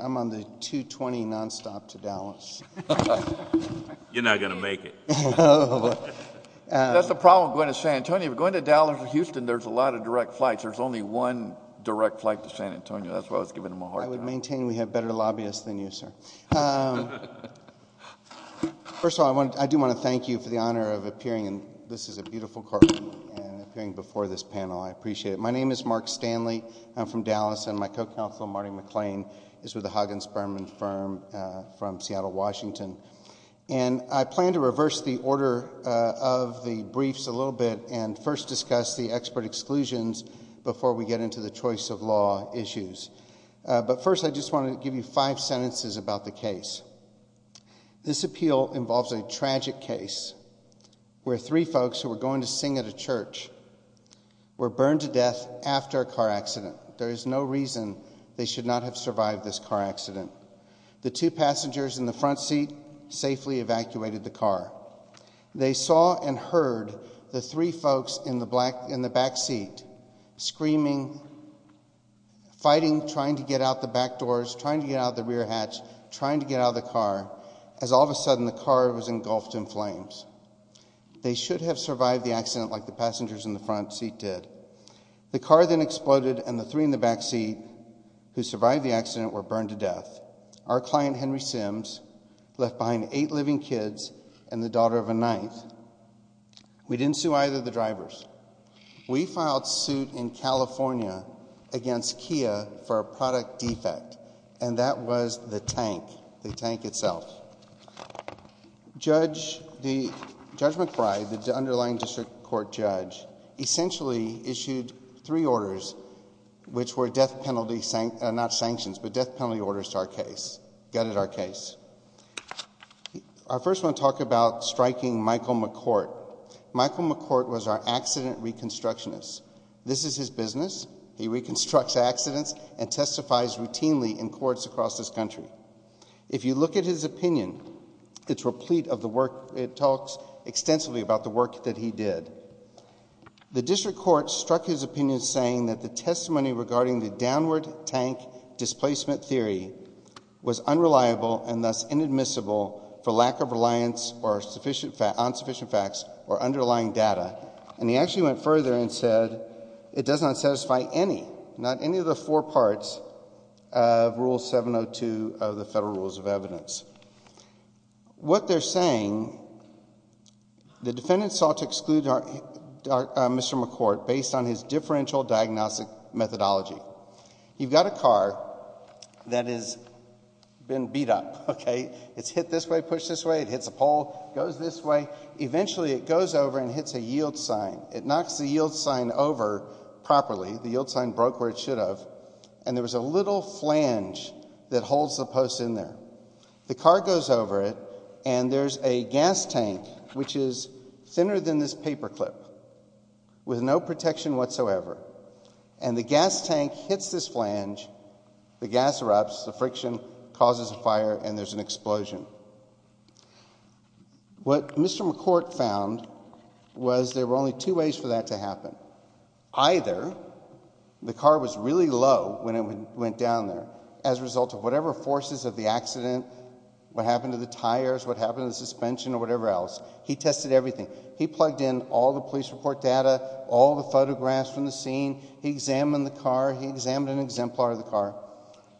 am on the 220 non-stop to Dallas. You're not going to make it. That's the problem with going to San Antonio, going to Dallas or Houston, there's a lot of direct flights. There's only one direct flight to San Antonio, that's why I was giving him a hard time. I would maintain we have better lobbyists than you, sir. First of all, I do want to thank you for the honor of appearing, and this is a beautiful courtroom, and appearing before this panel, I appreciate it. My name is Mark Stanley, I'm from Dallas, and my co-counsel, Marty McClain, is with the Hagen Sperm and Firm from Seattle, Washington. And I plan to reverse the order of the briefs a little bit and first discuss the expert exclusions before we get into the choice of law issues. But first I just want to give you five sentences about the case. This appeal involves a tragic case where three folks who were going to sing at a church were burned to death after a car accident. There is no reason they should not have survived this car accident. The two passengers in the front seat safely evacuated the car. They saw and heard the three folks in the back seat screaming, fighting, trying to get out the back doors, trying to get out of the rear hatch, trying to get out of the car, as all of a sudden the car was engulfed in flames. They should have survived the accident like the passengers in the front seat did. The car then exploded, and the three in the back seat who survived the accident were burned to death. Our client, Henry Sims, left behind eight living kids and the daughter of a knife. We didn't sue either of the drivers. We filed suit in California against Kia for a product defect, and that was the tank, the tank itself. Judge McBride, the underlying district court judge, essentially issued three orders which were death penalty, not sanctions, but death penalty orders to our case, gutted our case. Our first one talked about striking Michael McCourt. Michael McCourt was our accident reconstructionist. This is his business. He reconstructs accidents and testifies routinely in courts across this country. If you look at his opinion, it's replete of the work. It talks extensively about the work that he did. The district court struck his opinion saying that the testimony regarding the downward tank displacement theory was unreliable and thus inadmissible for lack of reliance or insufficient facts or underlying data, and he actually went further and said it does not satisfy any, not any of the four parts of Rule 702 of the Federal Rules of Evidence. What they're saying, the defendants sought to exclude Mr. McCourt based on his differential diagnostic methodology. You've got a car that has been beat up, okay? It's hit this way, pushed this way, it hits a pole, goes this way, eventually it goes over and hits a yield sign. It knocks the yield sign over properly. The yield sign broke where it should have, and there was a little flange that holds the car. The car goes over it, and there's a gas tank which is thinner than this paper clip with no protection whatsoever, and the gas tank hits this flange. The gas erupts, the friction causes a fire, and there's an explosion. What Mr. McCourt found was there were only two ways for that to happen. Either the car was really low when it went down there as a result of whatever forces of the accident, what happened to the tires, what happened to the suspension, or whatever else. He tested everything. He plugged in all the police report data, all the photographs from the scene. He examined the car. He examined an exemplar of the car,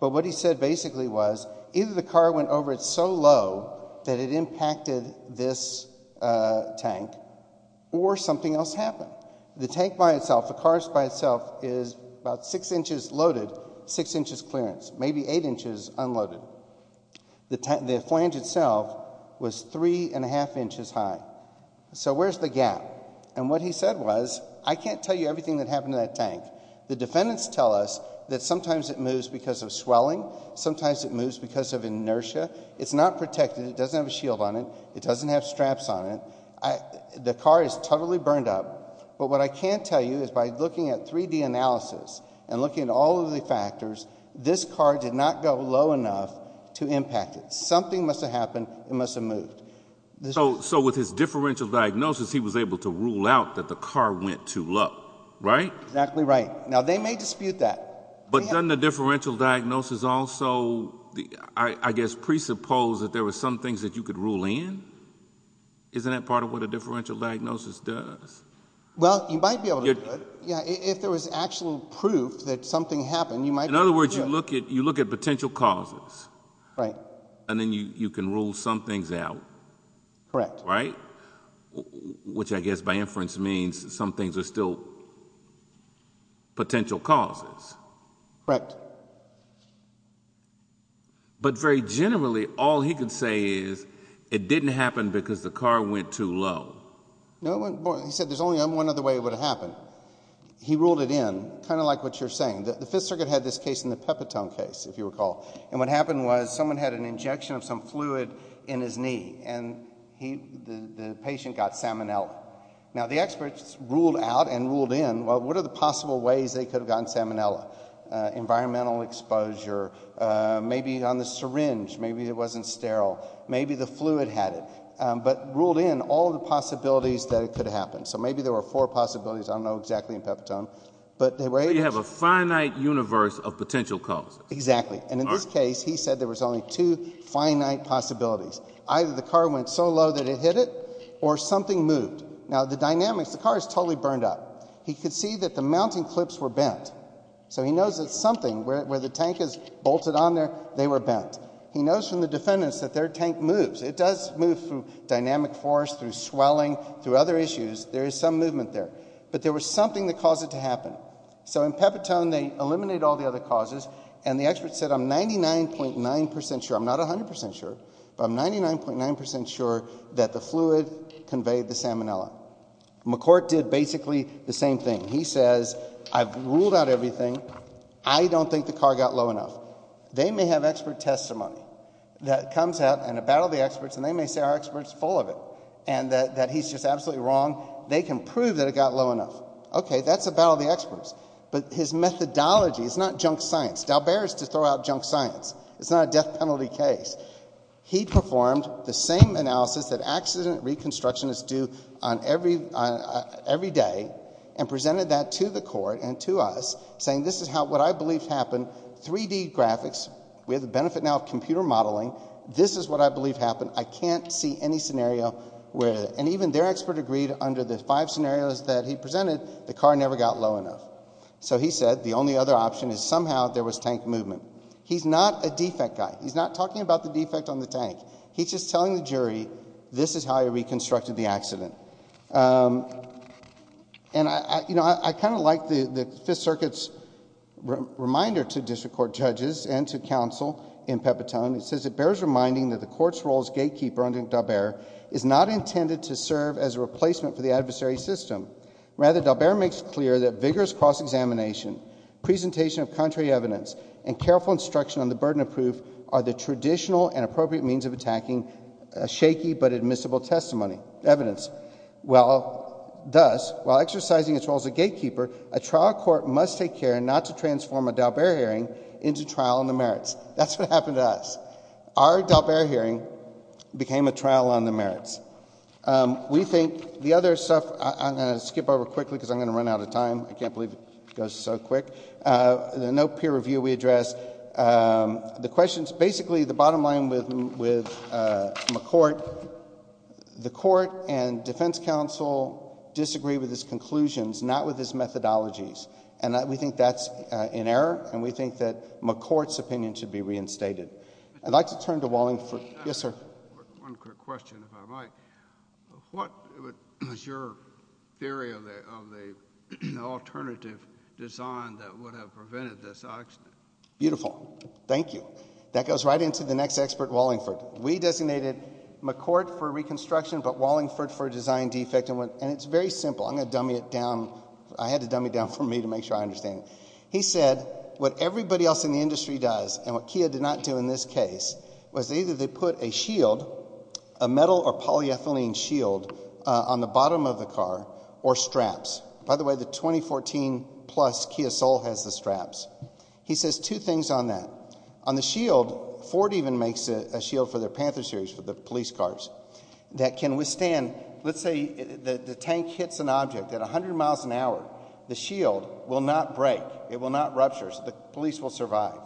but what he said basically was either the car went over it so low that it impacted this tank, or something else happened. The tank by itself, the car by itself is about six inches loaded, six inches clearance, maybe eight inches unloaded. The flange itself was three and a half inches high. Where's the gap? What he said was, I can't tell you everything that happened to that tank. The defendants tell us that sometimes it moves because of swelling, sometimes it moves because of inertia. It's not protected. It doesn't have a shield on it. It doesn't have straps on it. The car is totally burned up, but what I can tell you is by looking at 3D analysis and looking at all of the factors, this car did not go low enough to impact it. Something must have happened. It must have moved. So with his differential diagnosis, he was able to rule out that the car went too low, right? Exactly right. Now, they may dispute that. But doesn't the differential diagnosis also, I guess, presuppose that there were some things that you could rule in? Isn't that part of what a differential diagnosis does? Well, you might be able to do it. Yeah, if there was actual proof that something happened, you might be able to do it. In other words, you look at potential causes. And then you can rule some things out, right? Which I guess by inference means some things are still potential causes. But very generally, all he can say is, it didn't happen because the car went too low. He said there's only one other way it would have happened. He ruled it in, kind of like what you're saying. The Fifth Circuit had this case in the Pepitone case, if you recall. And what happened was, someone had an injection of some fluid in his knee, and the patient got salmonella. Now, the experts ruled out and ruled in, well, what are the possible ways they could have gotten salmonella? Environmental exposure, maybe on the syringe, maybe it wasn't sterile. Maybe the fluid had it. But ruled in all the possibilities that it could have happened. So maybe there were four possibilities, I don't know exactly in Pepitone. But they were able to- So you have a finite universe of potential causes. Exactly. And in this case, he said there was only two finite possibilities. Either the car went so low that it hit it, or something moved. Now, the dynamics, the car is totally burned up. He could see that the mounting clips were bent. So he knows that something, where the tank is bolted on there, they were bent. He knows from the defendants that their tank moves. It does move through dynamic force, through swelling, through other issues, there is some movement there. But there was something that caused it to happen. So in Pepitone, they eliminated all the other causes, and the experts said, I'm 99.9% sure, I'm not 100% sure, but I'm 99.9% sure that the fluid conveyed the salmonella. McCourt did basically the same thing. He says, I've ruled out everything, I don't think the car got low enough. They may have expert testimony that comes out, and a battle of the experts, and they may say our expert's full of it, and that he's just absolutely wrong. They can prove that it got low enough. OK, that's a battle of the experts. But his methodology, it's not junk science. Dalbert is to throw out junk science. It's not a death penalty case. He performed the same analysis that accident reconstructionists do every day, and presented that to the court and to us, saying this is what I believe happened, 3D graphics. We have the benefit now of computer modeling. This is what I believe happened. I can't see any scenario where, and even their expert agreed under the five scenarios that he presented, the car never got low enough. So he said, the only other option is somehow there was tank movement. He's not a defect guy. He's not talking about the defect on the tank. He's just telling the jury, this is how I reconstructed the accident. And I kind of like the Fifth Circuit's reminder to district court judges and to counsel in Pepitone. It says, it bears reminding that the court's role as gatekeeper under Dalbert is not intended to serve as a replacement for the adversary system. Rather, Dalbert makes clear that vigorous cross-examination, presentation of contrary evidence, and careful instruction on the burden of proof are the traditional and appropriate means of attacking a shaky but admissible testimony, evidence. Well, thus, while exercising its role as a gatekeeper, a trial court must take care not to transform a Dalbert hearing into trial on the merits. That's what happened to us. Our Dalbert hearing became a trial on the merits. We think the other stuff, I'm going to skip over quickly because I'm going to run out of time. I can't believe it goes so quick. No peer review we addressed. Basically, the bottom line with McCourt, the court and defense counsel disagree with his conclusions, not with his methodologies. We think that's in error, and we think that McCourt's opinion should be reinstated. I'd like to turn to Wallingford. Yes, sir. One quick question, if I might. What is your theory of the alternative design that would have prevented this accident? Beautiful. Thank you. That goes right into the next expert, Wallingford. We designated McCourt for reconstruction, but Wallingford for design defect, and it's very simple. I'm going to dummy it down. I had to dummy it down for me to make sure I understand it. He said what everybody else in the industry does, and what Kia did not do in this case, was either they put a shield, a metal or polyethylene shield, on the bottom of the car or straps. By the way, the 2014 plus Kia Soul has the straps. He says two things on that. On the shield, Ford even makes a shield for their Panther series for the police cars that can withstand, let's say the tank hits an object at 100 miles an hour, the shield will not break. It will not rupture, so the police will survive.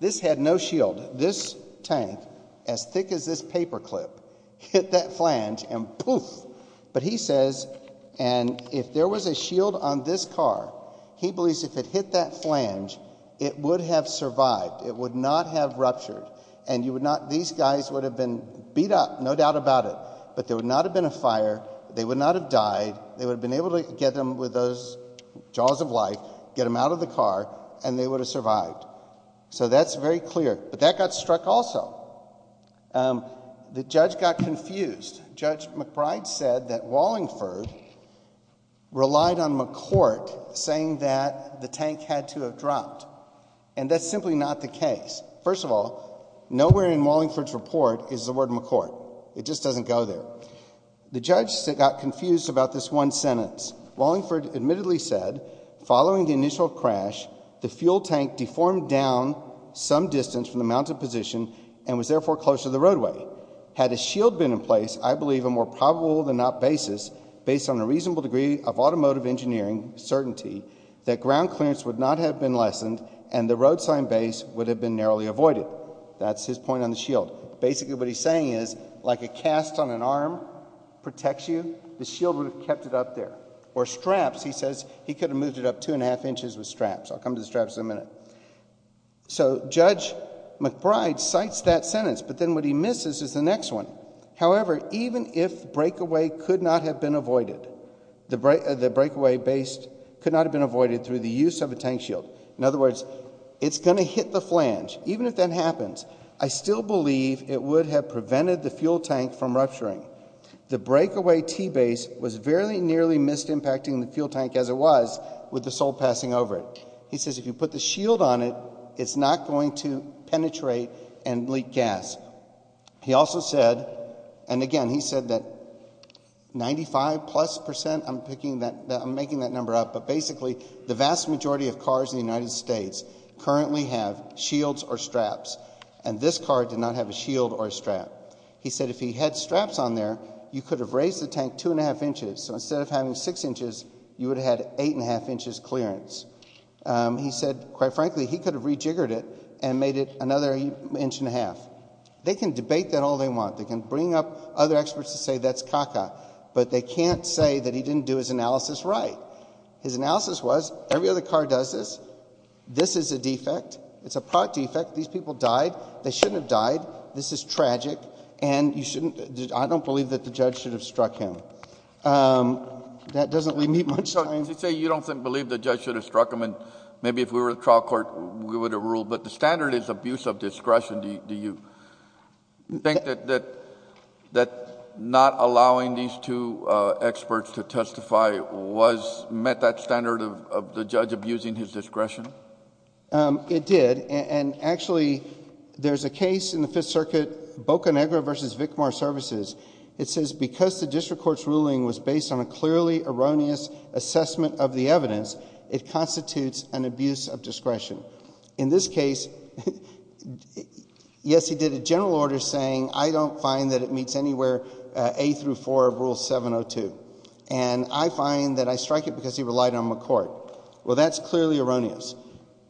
This had no shield. This tank, as thick as this paper clip, hit that flange and poof. He says if there was a shield on this car, he believes if it hit that flange, it would have survived. It would not have ruptured. These guys would have been beat up, no doubt about it, but there would not have been a fire. They would not have died. They would have been able to get them with those jaws of life, get them out of the car, and they would have survived. That's very clear, but that got struck also. The judge got confused. Judge McBride said that Wallingford relied on McCourt saying that the tank had to have dropped, and that's simply not the case. First of all, nowhere in Wallingford's report is the word McCourt. It just doesn't go there. The judge got confused about this one sentence. Wallingford admittedly said, following the initial crash, the fuel tank deformed down some distance from the mounted position and was therefore closer to the roadway. Had a shield been in place, I believe a more probable than not basis, based on a reasonable degree of automotive engineering certainty, that ground clearance would not have been lessened and the road sign base would have been narrowly avoided. That's his point on the shield. Basically, what he's saying is, like a cast on an arm protects you, the shield would have kept it up there. Or straps, he says, he could have moved it up two and a half inches with straps. I'll come to the straps in a minute. So, Judge McBride cites that sentence, but then what he misses is the next one. However, even if the breakaway could not have been avoided, the breakaway base could not have been avoided through the use of a tank shield, in other words, it's going to hit the flange. Even if that happens, I still believe it would have prevented the fuel tank from rupturing. The breakaway T-base was very nearly missed impacting the fuel tank as it was with the sole passing over it. He says if you put the shield on it, it's not going to penetrate and leak gas. He also said, and again, he said that 95 plus percent, I'm making that number up, but basically the vast majority of cars in the United States currently have shields or straps, and this car did not have a shield or a strap. He said if he had straps on there, you could have raised the tank two and a half inches, so instead of having six inches, you would have had eight and a half inches clearance. He said, quite frankly, he could have rejiggered it and made it another inch and a half. They can debate that all they want. They can bring up other experts to say that's caca, but they can't say that he didn't do his analysis right. His analysis was every other car does this. This is a defect. It's a product defect. These people died. They shouldn't have died. This is tragic, and you shouldn't... I don't believe that the judge should have... That doesn't leave much time....... To say you don't believe the judge should have struck him, and maybe if we were in trial court, we would have ruled, but the standard is abuse of discretion. Do you think that not allowing these two experts to testify met that standard of the judge abusing his discretion? It did, and actually, there's a case in the Fifth Circuit, Boca Negra versus McCourt. In this case, yes, he did a general order saying, I don't find that it meets anywhere A through 4 of Rule 702, and I find that I strike it because he relied on McCourt. Well, that's clearly erroneous.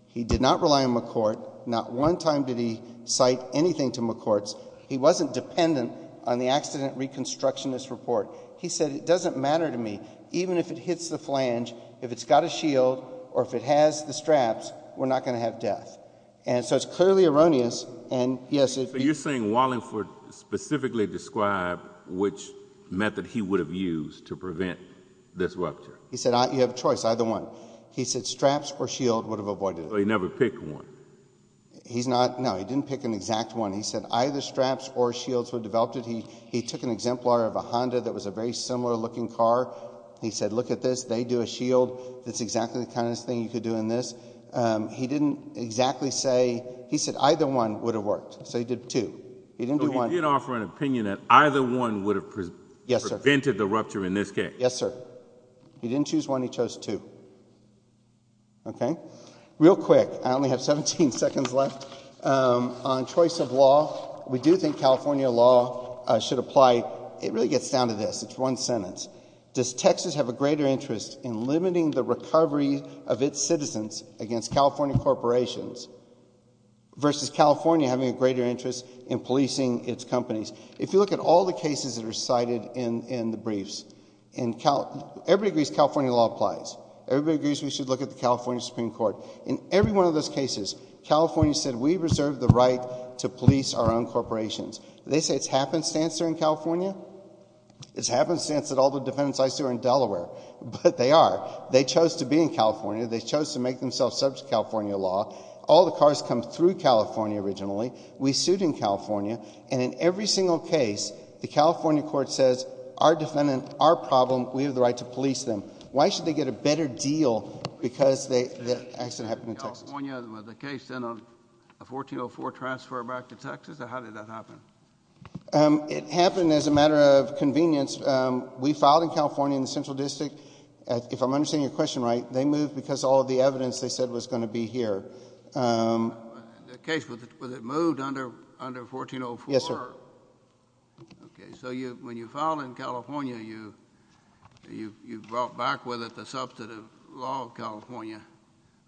He did not rely on McCourt. Not one time did he cite anything to McCourt. He wasn't dependent on the accident reconstructionist report. He said, it doesn't matter to me, even if it hits the flange, if it's got a shield, or if it has the straps, we're not going to have death. And so it's clearly erroneous, and yes... So you're saying Wallingford specifically described which method he would have used to prevent this rupture? He said, you have a choice, either one. He said, straps or shield would have avoided it. So he never picked one? He's not... no, he didn't pick an exact one. He said, either straps or shields would have developed it. He took an exemplar of a Honda that was a very similar looking car. He said, look at this. They do a shield. That's exactly the kind of thing you could do in this. He didn't exactly say... he said, either one would have worked. So he did two. He didn't do one. So he did offer an opinion that either one would have prevented the rupture in this case? Yes, sir. He didn't choose one. He chose two. Okay? Real quick, I only have 17 seconds left. On choice of law, we do think California law should apply... it really gets down to this. It's one sentence. Does Texas have a greater interest in limiting the recovery of its citizens against California corporations versus California having a greater interest in policing its companies? If you look at all the cases that are cited in the briefs, everybody agrees California law applies. Everybody agrees we should look at the California Supreme Court. In every one of those cases, California said we reserve the right to police our own corporations. They say it's happenstance they're in California? It's happenstance that all the defendants I sued are in Delaware, but they are. They chose to be in California. They chose to make themselves subject to California law. All the cars come through California originally. We sued in California, and in every single case, the California court says, our defendant, our problem, we have the right to police them. Why should they get a better deal because the accident happened in Texas? Was the case in a 1404 transfer back to Texas, or how did that happen? It happened as a matter of convenience. We filed in California in the Central District. If I'm understanding your question right, they moved because all of the evidence they said was going to be here. Yes, sir. Okay, so when you filed in California, you brought back with it the substantive law of California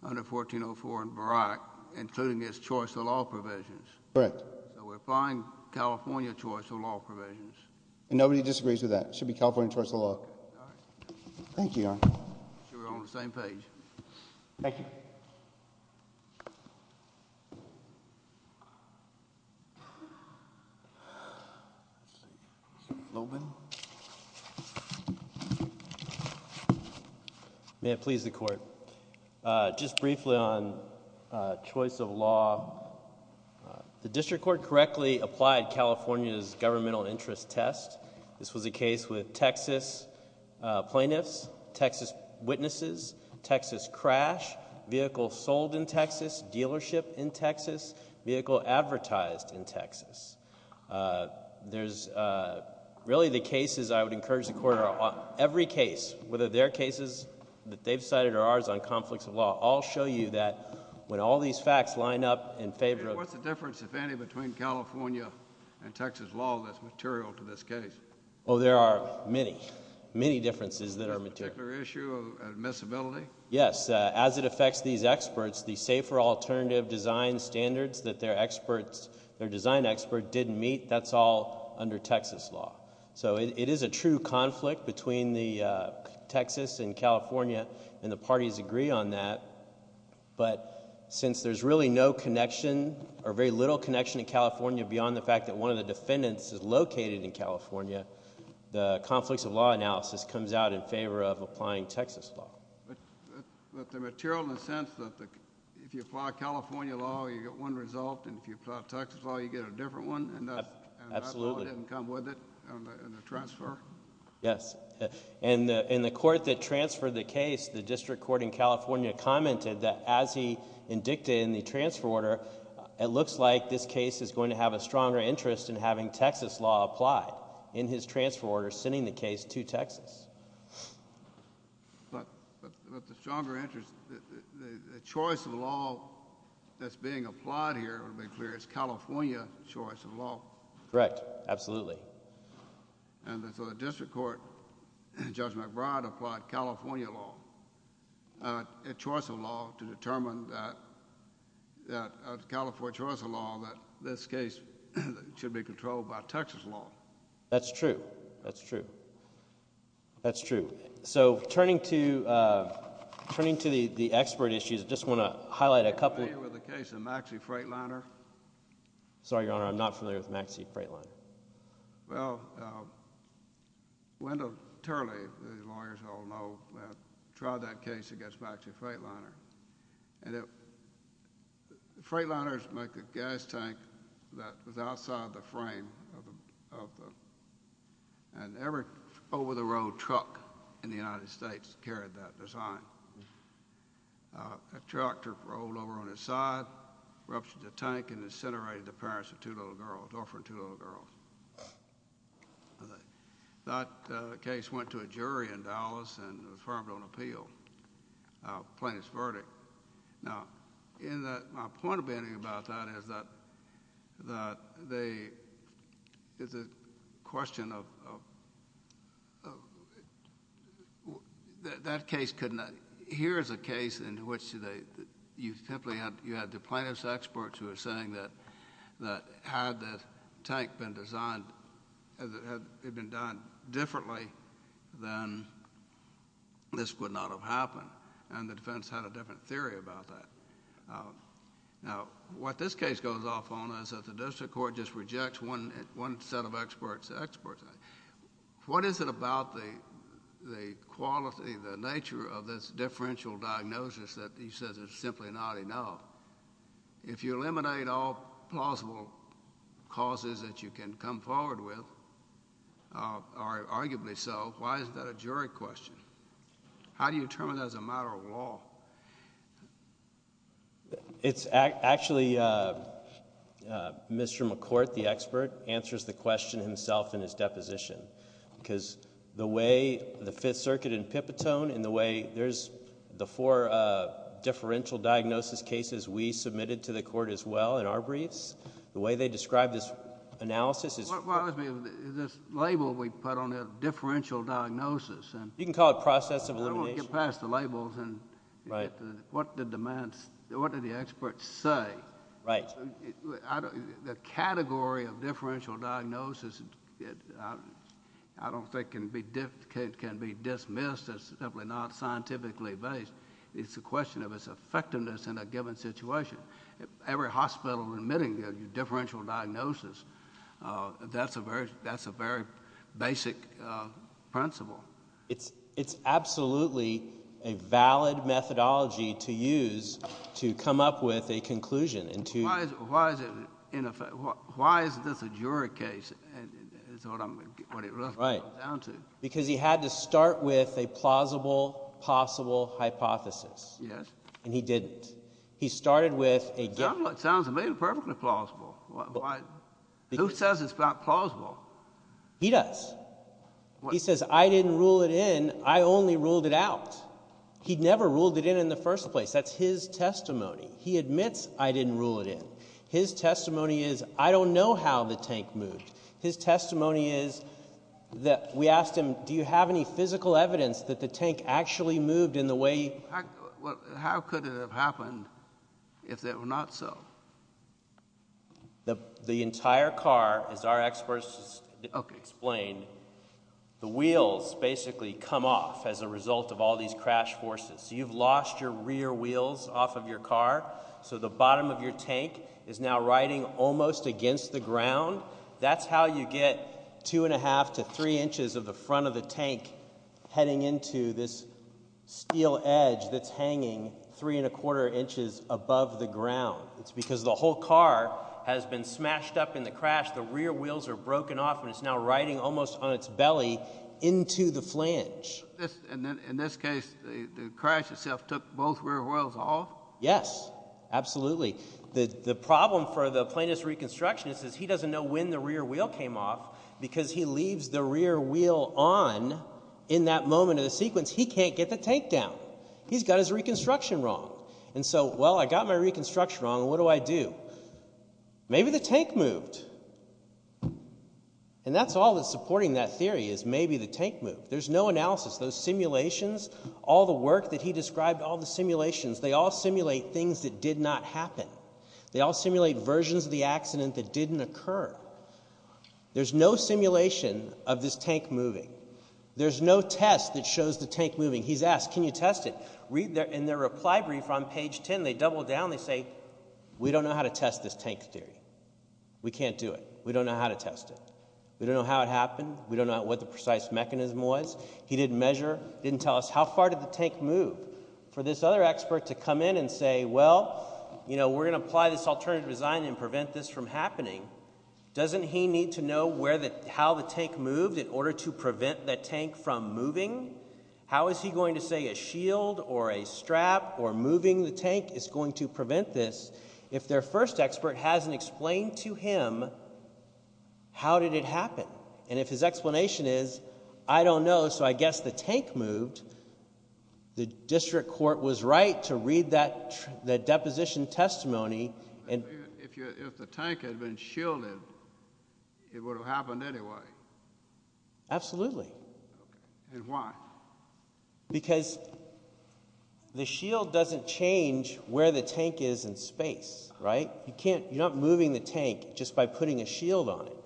under 1404 and Barak, including its choice of law provisions. Correct. So we're filing California choice of law provisions. Nobody disagrees with that. It should be California choice of law. All right. Thank you, Your Honor. I'm sure we're on the same page. Thank you. Thank you. Mr. Lobin. May it please the court. Just briefly on choice of law, the district court correctly applied California's governmental interest test. This was a case with Texas plaintiffs, Texas witnesses, Texas crash, vehicle sold in Texas, dealership in Texas, vehicle advertised in Texas. There's really the cases I would encourage the court on, every case, whether they're cases that they've cited or ours on conflicts of law, I'll show you that when all these facts line up in favor of... In Texas law, that's material to this case. Oh, there are many, many differences that are material. Is there a particular issue of admissibility? Yes. As it affects these experts, the safer alternative design standards that their experts, their design expert didn't meet, that's all under Texas law. So it is a true conflict between the Texas and California, and the parties agree on that, but since there's really no connection or very little connection in the defendants is located in California, the conflicts of law analysis comes out in favor of applying Texas law. But the material in the sense that if you apply California law, you get one result, and if you apply Texas law, you get a different one, and that law didn't come with it in the transfer? Yes. In the court that transferred the case, the district court in California commented that as he indicted in the transfer order, it looks like this case is going to have a difference in having Texas law applied in his transfer order sending the case to Texas. But the stronger interest... the choice of law that's being applied here, to be clear, it's California choice of law. Correct. Absolutely. And so the district court, Judge McBride applied California law, a choice of law to the defense. It's a question of... that case could not... here is a case in which you simply had the plaintiff's experts who are saying that had the tank been designed, had it been done differently, then this would not have happened, and the defense had a different theory about that. Now, what this case goes off on is that the district court just rejects one set of experts. What is it about the quality, the nature of this differential diagnosis that he says is simply not enough? If you eliminate all plausible causes that you can come forward with, or arguably so, why is that a jury question? How do you determine that as a matter of law? It's actually Mr. McCourt, the expert, answers the question himself in his deposition, because the way the Fifth Circuit in Pipitone and the way there's the four differential diagnosis cases we submitted to the court as well in our briefs, the way they describe this analysis is... Well, I mean, this label we put on it, differential diagnosis, and... You can call it process of elimination. I won't get past the labels and what the demands... what do the experts say? The category of differential diagnosis I don't think can be dismissed as simply not scientifically based. It's a question of its effectiveness in a given situation. Every hospital admitting a differential diagnosis, that's a very basic principle. It's absolutely a valid methodology to use to come up with a conclusion and to... Why is this a jury case is what it really comes down to. Because he had to start with a plausible, possible hypothesis, and he didn't. He started with a... Sounds to me perfectly plausible. Who says it's not plausible? He does. He says, I didn't rule it in. I only ruled it out. He never ruled it in in the first place. That's his testimony. He admits, I didn't rule it in. His testimony is, I don't know how the tank moved. His testimony is that we asked him, do you have any physical evidence that the tank actually moved in the way... How could it have happened if it were not so? The entire car, as our experts explained, the wheels basically come off as a result of all these crash forces. You've lost your rear wheels off of your car, so the bottom of your tank is now riding almost against the ground. That's how you get two and a half to three inches of the front of the tank heading into this steel edge that's hanging three and a quarter inches above the ground. It's because the whole car has been smashed up in the crash, the rear wheels are broken off and it's now riding almost on its belly into the flange. In this case, the crash itself took both rear wheels off? Yes, absolutely. The problem for the plaintiff's reconstructionist is he doesn't know when the rear wheel came off because he leaves the rear wheel on in that moment of the sequence. He can't get the tank down. He's got his reconstruction wrong. I got my reconstruction wrong, what do I do? Maybe the tank moved. That's all that's supporting that theory is maybe the tank moved. There's no analysis. Those simulations, all the work that he described, all the simulations, they all simulate things that did not happen. They all simulate versions of the accident that didn't occur. There's no simulation of this tank moving. There's no test that shows the tank moving. He's asked, can you test it? In their reply brief on page 10, they double down, they say, we don't know how to test this tank theory. We can't do it. We don't know how to test it. We don't know how it happened. We don't know what the precise mechanism was. He didn't measure, didn't tell us how far did the tank move. For this other expert to come in and say, well, we're going to apply this alternative design and prevent this from happening, doesn't he need to know how the tank moved in order to prevent the tank from moving? How is he going to say a shield or a strap or moving the tank is going to prevent this if their first expert hasn't explained to him how did it happen? If his explanation is, I don't know, so I guess the tank moved, the district court was right to read that deposition testimony. If the tank had been shielded, it would have happened anyway. Absolutely. Absolutely. Why? Because the shield doesn't change where the tank is in space, right? You can't, you're not moving the tank just by putting a shield on it.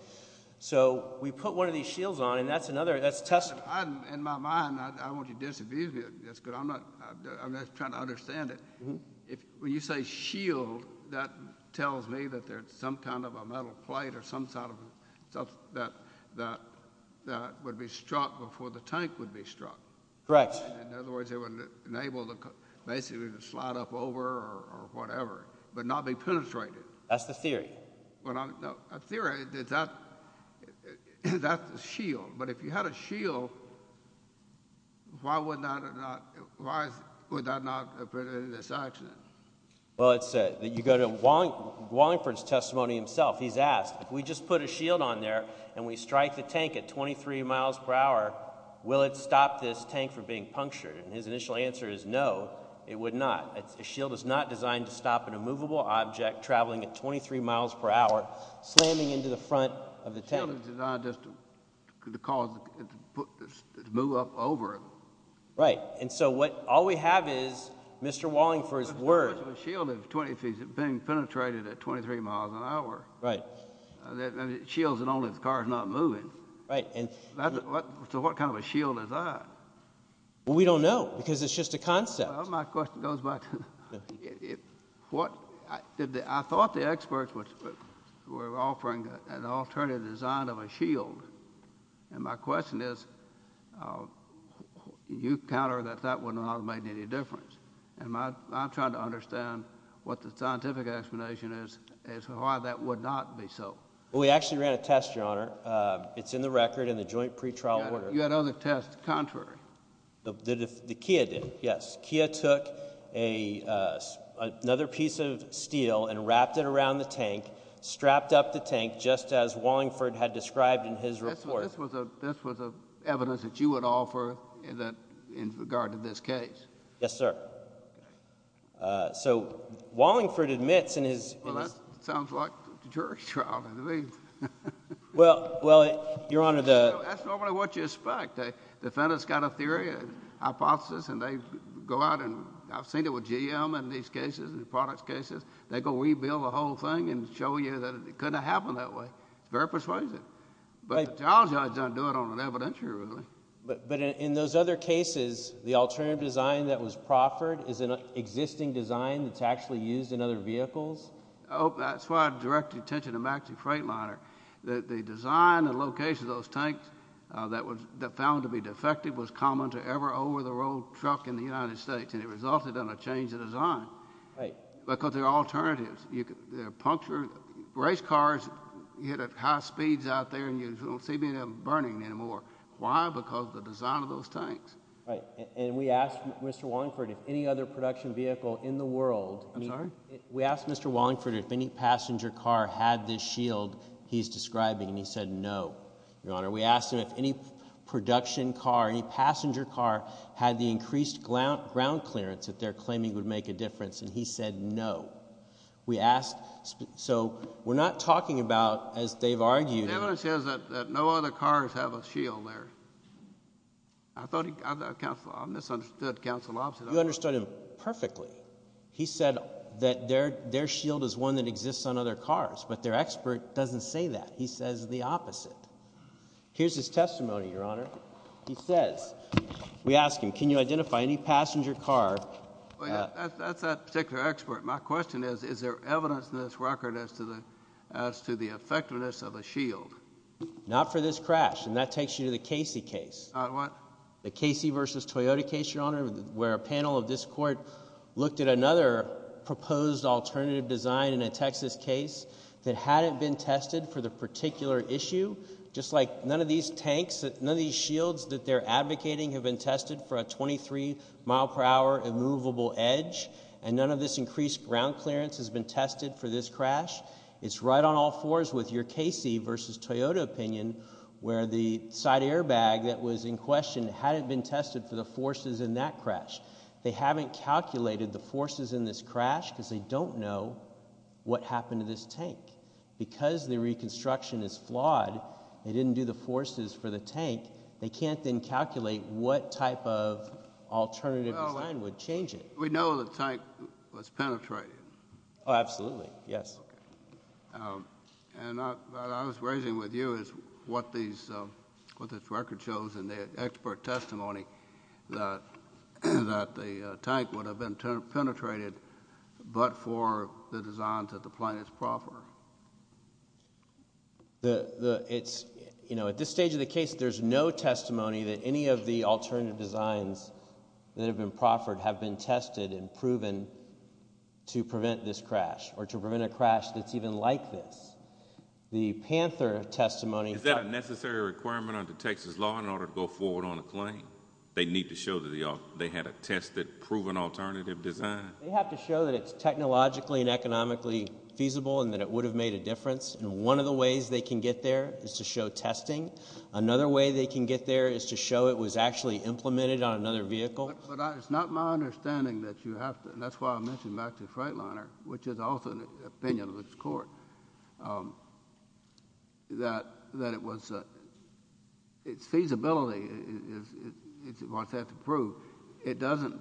So we put one of these shields on and that's another, that's testimony. In my mind, I want you to disavow it, that's good, I'm not, I'm not trying to understand it. If, when you say shield, that tells me that there's some kind of a metal plate or some sort of stuff that would be struck before the tank would be struck. Correct. In other words, it would enable the basically to slide up over or whatever, but not be penetrated. That's the theory. Well, no, a theory, that's the shield, but if you had a shield, why would that not, why would that not have been in this accident? Well, it's, you go to Wallingford's testimony himself, he's asked, if we just put a shield on there and we strike the tank at 23 miles per hour, will it stop this tank from being punctured? And his initial answer is no, it would not. A shield is not designed to stop an immovable object traveling at 23 miles per hour, slamming into the front of the tank. The shield is designed just to cause, to move up over it. Right. And so what, all we have is Mr. Wallingford's word. A shield, if it's being penetrated at 23 miles an hour, that shields it only if the car's not moving. Right. So what kind of a shield is that? Well, we don't know because it's just a concept. Well, my question goes back to, I thought the experts were offering an alternative design of a shield. And my question is, you counter that that would not have made any difference. And my, I'm trying to understand what the scientific explanation is, is why that would not be so. Well, we actually ran a test, Your Honor. It's in the record in the joint pretrial order. You had other tests contrary. The Kia did, yes. Kia took another piece of steel and wrapped it around the tank, strapped up the tank just as Wallingford had described in his report. This was a, this was a evidence that you would offer in that, in regard to this case. Yes, sir. So Wallingford admits in his— Well, that sounds like a jury trial to me. Well, Your Honor, the— That's normally what you expect. Defendants got a theory, a hypothesis, and they go out and, I've seen it with GM in these cases, the products cases, they go rebuild the whole thing and show you that it couldn't have happened that way. It's very persuasive. But the trial judge doesn't do it on an evidentiary, really. But in those other cases, the alternative design that was proffered is an existing design that's actually used in other vehicles? Oh, that's why I direct attention to Maxi Freightliner. The design and location of those tanks that was, that found to be defective was common to every over-the-road truck in the United States, and it resulted in a change of design. Right. Because there are alternatives. There are puncture—race cars, you hit at high speeds out there, and you don't see many of them burning anymore. Why? Because of the design of those tanks. Right. And we asked Mr. Wallingford if any other production vehicle in the world— I'm sorry? We asked Mr. Wallingford if any passenger car had this shield he's describing, and he said no, Your Honor. We asked him if any production car, any passenger car, had the increased ground clearance that they're claiming would make a difference, and he said no. We asked—so, we're not talking about, as they've argued— The evidence says that no other cars have a shield there. I thought he—I misunderstood counsel opposite of that. You understood him perfectly. He said that their shield is one that exists on other cars, but their expert doesn't say that. He says the opposite. Here's his testimony, Your Honor. He says—we asked him, can you identify any passenger car— Well, yeah, that's that particular expert. My question is, is there evidence in this record as to the effectiveness of a shield? Not for this crash, and that takes you to the Casey case. The what? The Casey v. Toyota case, Your Honor, where a panel of this court looked at another proposed alternative design in a Texas case that hadn't been tested for the particular issue. Just like none of these tanks, none of these shields that they're advocating have been This ground clearance has been tested for this crash. It's right on all fours with your Casey v. Toyota opinion, where the side airbag that was in question hadn't been tested for the forces in that crash. They haven't calculated the forces in this crash because they don't know what happened to this tank. Because the reconstruction is flawed, they didn't do the forces for the tank, they can't then calculate what type of alternative design would change it. We know the tank was penetrated. Oh, absolutely, yes. And what I was raising with you is what this record shows in the expert testimony that the tank would have been penetrated but for the designs that the plaintiffs proffered. It's, you know, at this stage of the case, there's no testimony that any of the alternative designs that have been proffered have been tested and proven to prevent this crash or to prevent a crash that's even like this. The Panther testimony Is that a necessary requirement under Texas law in order to go forward on a claim? They need to show that they had a tested, proven alternative design? They have to show that it's technologically and economically feasible and that it would have made a difference. And one of the ways they can get there is to show testing. Another way they can get there is to show it was actually implemented on another vehicle. But it's not my understanding that you have to, and that's why I mentioned back to the Freightliner, which is also an opinion of this Court, that it was, its feasibility is what they have to prove. It doesn't,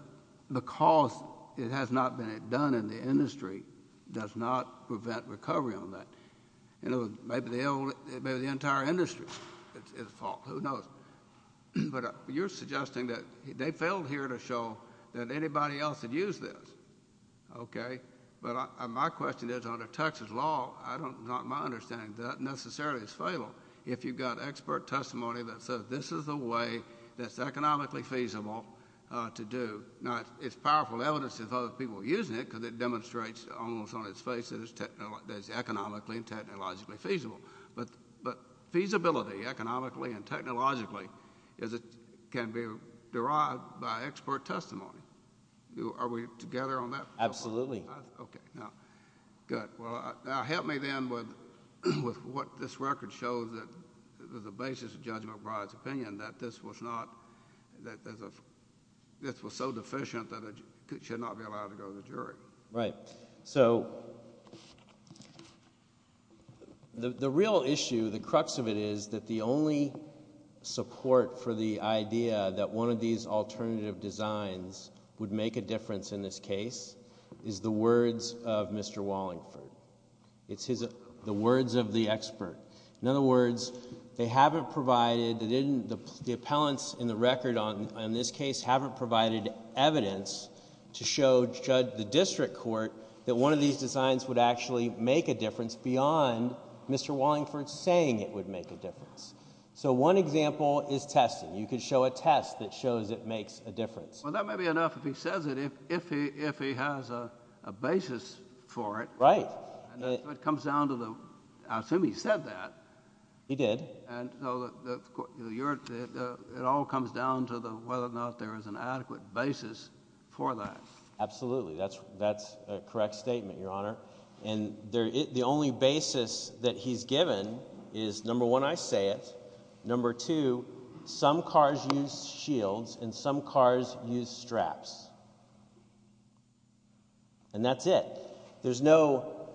the cost, it has not been done in the industry, does not prevent recovery on that. You know, maybe the entire industry is at fault, who knows? But you're suggesting that they failed here to show that anybody else had used this, okay? But my question is, under Texas law, I don't, not in my understanding, that necessarily is fatal. If you've got expert testimony that says this is the way that's economically feasible to do. Now, it's powerful evidence that other people are using it because it demonstrates almost on its face that it's economically and technologically feasible. But feasibility, economically and technologically, can be derived by expert testimony. Are we together on that? Absolutely. Okay. Now, good. Now, help me then with what this record shows that the basis of judgment by its opinion that this was not, that this was so deficient that it should not be allowed to go to the district court. The real issue, the crux of it is that the only support for the idea that one of these alternative designs would make a difference in this case is the words of Mr. Wallingford. It's the words of the expert. In other words, they haven't provided, the appellants in the record on this case haven't provided evidence to show, judge the district court, that one of these designs would actually make a difference beyond Mr. Wallingford saying it would make a difference. So one example is testing. You could show a test that shows it makes a difference. Well, that may be enough if he says it, if he has a basis for it. Right. It comes down to the, I assume he said that. He did. And so it all comes down to whether or not there is an adequate basis for that. Absolutely. That's a correct statement, Your Honor. And the only basis that he's given is, number one, I say it. Number two, some cars use shields and some cars use straps. And that's it. There's no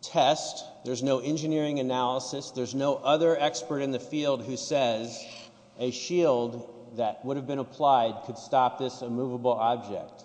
test. There's no engineering analysis. There's no other expert in the field who says a shield that would have been applied could stop this immovable object.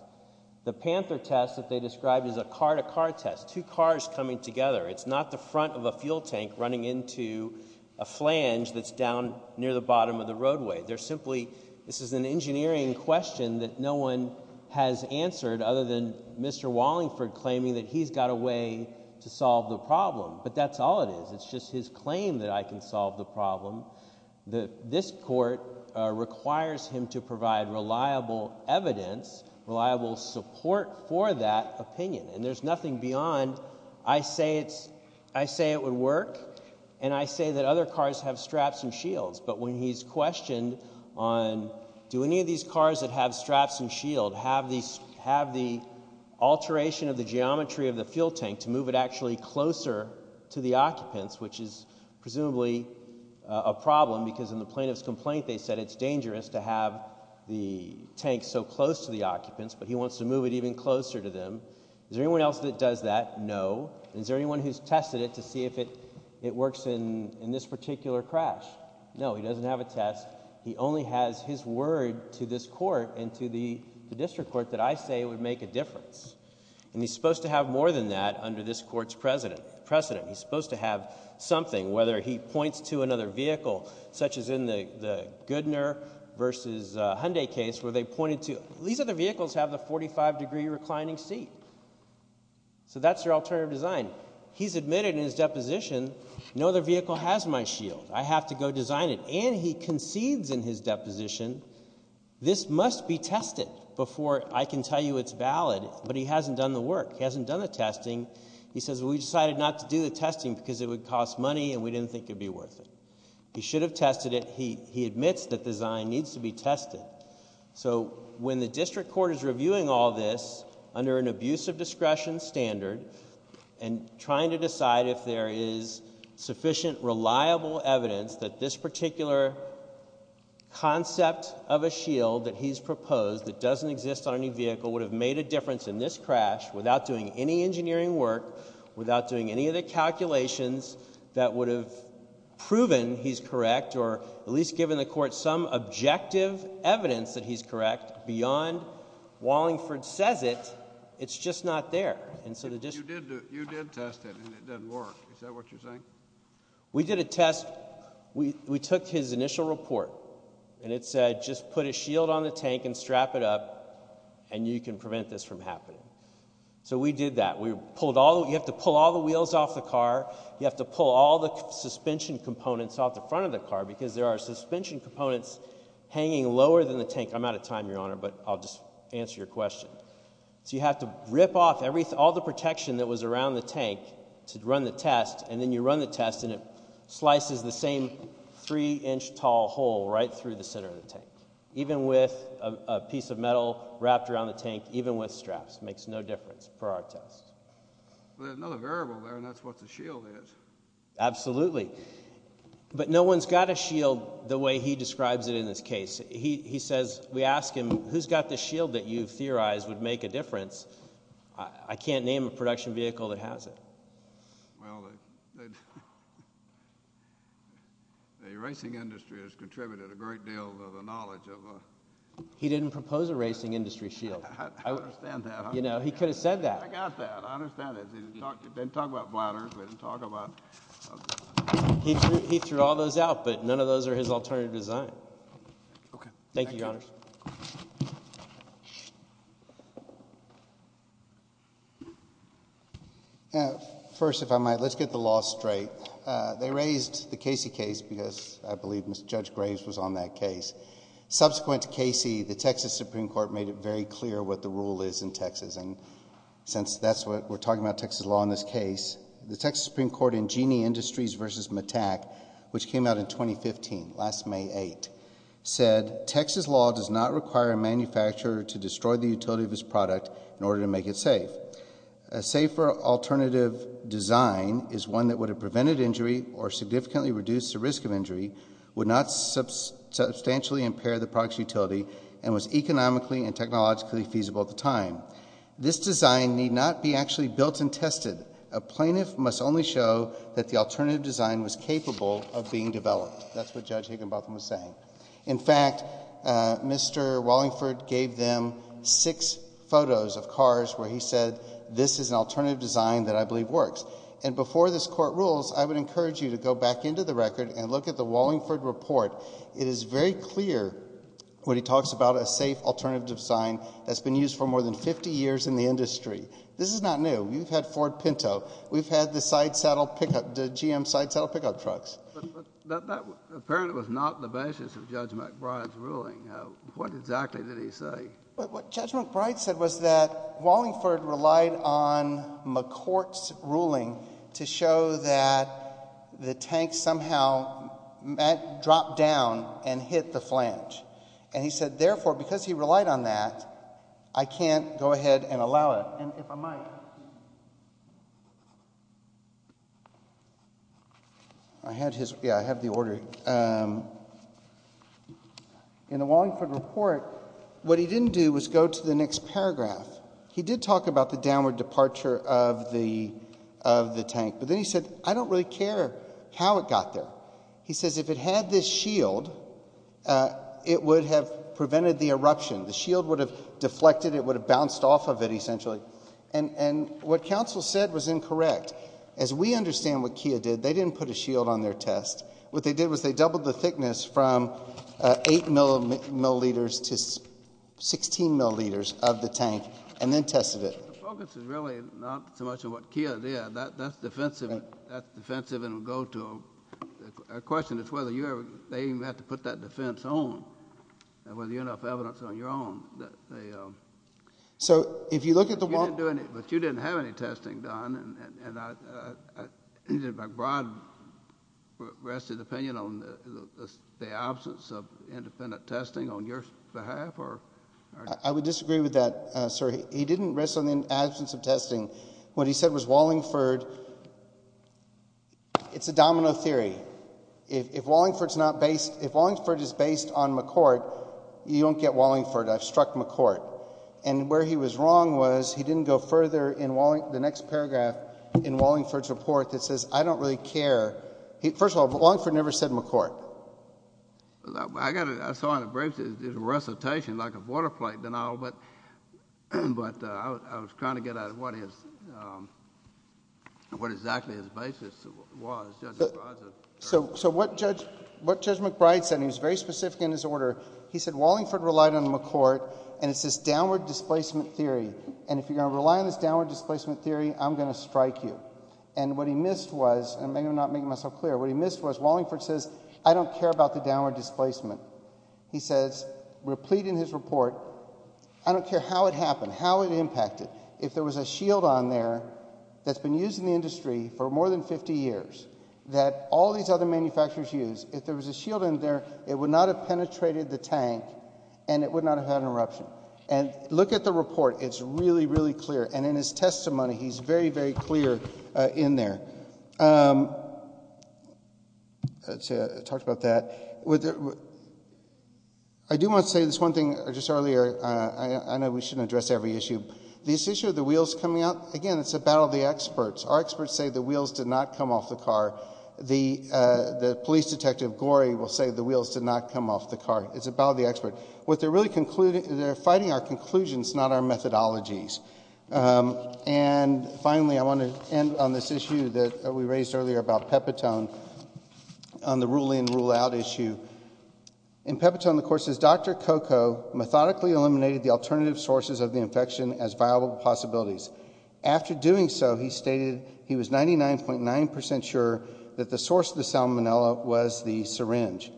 The Panther test that they described is a car-to-car test, two cars coming together. It's not the front of a fuel tank running into a flange that's down near the bottom of the roadway. They're simply, this is an engineering question that no one has answered other than Mr. Wallingford claiming that he's got a way to solve the problem. But that's all it is. It's just his claim that I can solve the problem. This court requires him to provide reliable evidence, reliable support for that opinion. And there's nothing beyond, I say it would work, and I say that other cars have straps and shields. But when he's questioned on, do any of these cars that have straps and shield have the alteration of the geometry of the fuel tank to move it actually closer to the occupants, which is presumably a problem because in the plaintiff's complaint they said it's dangerous to have the tank so close to the occupants, but he wants to move it even closer to them. Is there anyone else that does that? No. Is there anyone who's tested it to see if it works in this particular crash? No, he doesn't have a test. He only has his word to this court and to the district court that I say would make a difference. And he's supposed to have more than that under this court's precedent. He's supposed to have something, whether he points to another vehicle, such as in the Goodner versus Hyundai case where they pointed to, these other vehicles have the 45 degree reclining seat. So that's your alternative design. He's admitted in his deposition, no other vehicle has my shield. I have to go design it. And he concedes in his deposition, this must be tested before I can tell you it's valid. But he hasn't done the work. He hasn't done the testing. He says, well, we decided not to do the testing because it would cost money and we didn't think it would be worth it. He should have tested it. He admits that design needs to be tested. So when the district court is reviewing all this under an abuse of discretion standard and trying to decide if there is sufficient reliable evidence that this particular concept of a shield that he's proposed that doesn't exist on any vehicle would have made a difference in this crash without doing any engineering work, without doing any of the calculations that would have proven he's correct or at least given the court some objective evidence that he's correct beyond Wallingford says it, it's just not there. You did test it and it didn't work, is that what you're saying? We did a test, we took his initial report and it said just put a shield on the tank and strap it up and you can prevent this from happening. So we did that. We pulled all, you have to pull all the wheels off the car, you have to pull all the suspension components off the front of the car because there are suspension components hanging lower than the tank. I'm out of time, Your Honor, but I'll just answer your question. So you have to rip off all the protection that was around the tank to run the test and then you run the test and it slices the same three-inch tall hole right through the center of the tank, even with a piece of metal wrapped around the tank, even with straps, makes no difference for our test. But there's another variable there and that's what the shield is. Absolutely. But no one's got a shield the way he describes it in this case. He says, we ask him, who's got the shield that you've theorized would make a difference? I can't name a production vehicle that has it. Well, the racing industry has contributed a great deal to the knowledge of a... He didn't propose a racing industry shield. I understand that. You know, he could have said that. I got that. I understand that. He didn't talk about bladders, he didn't talk about... He threw all those out, but none of those are his alternative design. Okay. Thank you, Your Honors. First, if I might, let's get the law straight. They raised the Casey case because I believe Judge Graves was on that case. Subsequent to Casey, the Texas Supreme Court made it very clear what the rule is in Texas. And since that's what we're talking about, Texas law in this case, the Texas Supreme Texas law does not require a manufacturer to destroy the utility of his product in order to make it safe. A safer alternative design is one that would have prevented injury or significantly reduced the risk of injury, would not substantially impair the product's utility, and was economically and technologically feasible at the time. This design need not be actually built and tested. A plaintiff must only show that the alternative design was capable of being developed. That's what Judge Higginbotham was saying. In fact, Mr. Wallingford gave them six photos of cars where he said, this is an alternative design that I believe works. And before this court rules, I would encourage you to go back into the record and look at the Wallingford report. It is very clear when he talks about a safe alternative design that's been used for more than 50 years in the industry. This is not new. We've had Ford Pinto. We've had the GM side saddle pickup trucks. But that apparently was not the basis of Judge McBride's ruling. What exactly did he say? What Judge McBride said was that Wallingford relied on McCourt's ruling to show that the tank somehow dropped down and hit the flange. And he said, therefore, because he relied on that, I can't go ahead and allow it. And if I might. I had his, yeah, I have the order. In the Wallingford report, what he didn't do was go to the next paragraph. He did talk about the downward departure of the tank. But then he said, I don't really care how it got there. He says, if it had this shield, it would have prevented the eruption. The shield would have deflected. It would have bounced off of it, essentially. And what counsel said was incorrect. As we understand what Kia did, they didn't put a shield on their test. What they did was they doubled the thickness from 8 milliliters to 16 milliliters of the tank. And then tested it. The focus is really not so much on what Kia did. That's defensive. That's defensive and will go to a question as to whether they even had to put that defense on. Whether you have enough evidence on your own. So if you look at the Wallingford. But you didn't have any testing done. And my broad, rested opinion on the absence of independent testing on your behalf. I would disagree with that, sir. He didn't rest on the absence of testing. What he said was Wallingford, it's a domino theory. If Wallingford is based on McCourt, you don't get Wallingford. I've struck McCourt. And where he was wrong was he didn't go further in the next paragraph in Wallingford's report that says, I don't really care. First of all, Wallingford never said McCourt. I saw in the briefs his recitation like a water plate and all. But I was trying to get at what exactly his basis was, Judge McBride's. So what Judge McBride said, and he was very specific in his order. He said Wallingford relied on McCourt, and it's this downward displacement theory. And if you're going to rely on this downward displacement theory, I'm going to strike you. And what he missed was, and maybe I'm not making myself clear, what he missed was Wallingford says, I don't care about the downward displacement. He says, replete in his report, I don't care how it happened, how it impacted. If there was a shield on there that's been used in the industry for more than 50 years that all these other manufacturers use, if there was a shield in there, it would not have penetrated the tank, and it would not have had an eruption. And look at the report. It's really, really clear. And in his testimony, he's very, very clear in there. Talked about that. I do want to say this one thing just earlier. I know we shouldn't address every issue. This issue of the wheels coming out, again, it's a battle of the experts. Our experts say the wheels did not come off the car. The police detective, Gorey, will say the wheels did not come off the car. It's a battle of the experts. What they're really fighting are conclusions, not our methodologies. And finally, I want to end on this issue that we raised earlier about Pepitone on the rule in, rule out issue. In Pepitone, the court says, Dr. Coco methodically eliminated the alternative sources of the infection as viable possibilities. After doing so, he stated he was 99.9% sure that the source of the salmonella was the syringe.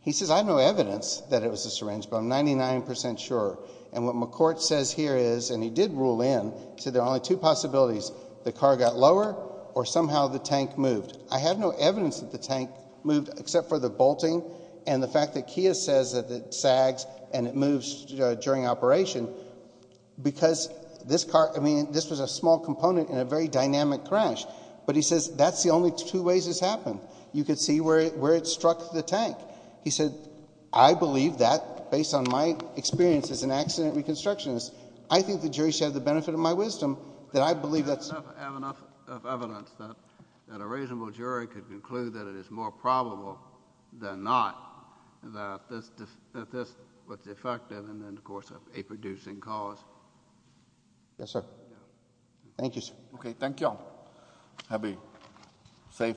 He says, I have no evidence that it was a syringe, but I'm 99% sure. And what McCourt says here is, and he did rule in, said there are only two possibilities. The car got lower, or somehow the tank moved. I have no evidence that the tank moved, except for the bolting and the fact that Kia says that it sags and it moves during operation, because this car, I mean, this was a small component in a very dynamic crash. But he says, that's the only two ways this happened. You could see where it struck the tank. He said, I believe that, based on my experience as an accident reconstructionist, I think the jury should have the benefit of my wisdom that I believe that's. I have enough evidence that a reasonable jury could conclude that it is more probable than not that this was effective in the course of a producing cause. Yes, sir. Thank you, sir. Okay, thank you all. Have a safe.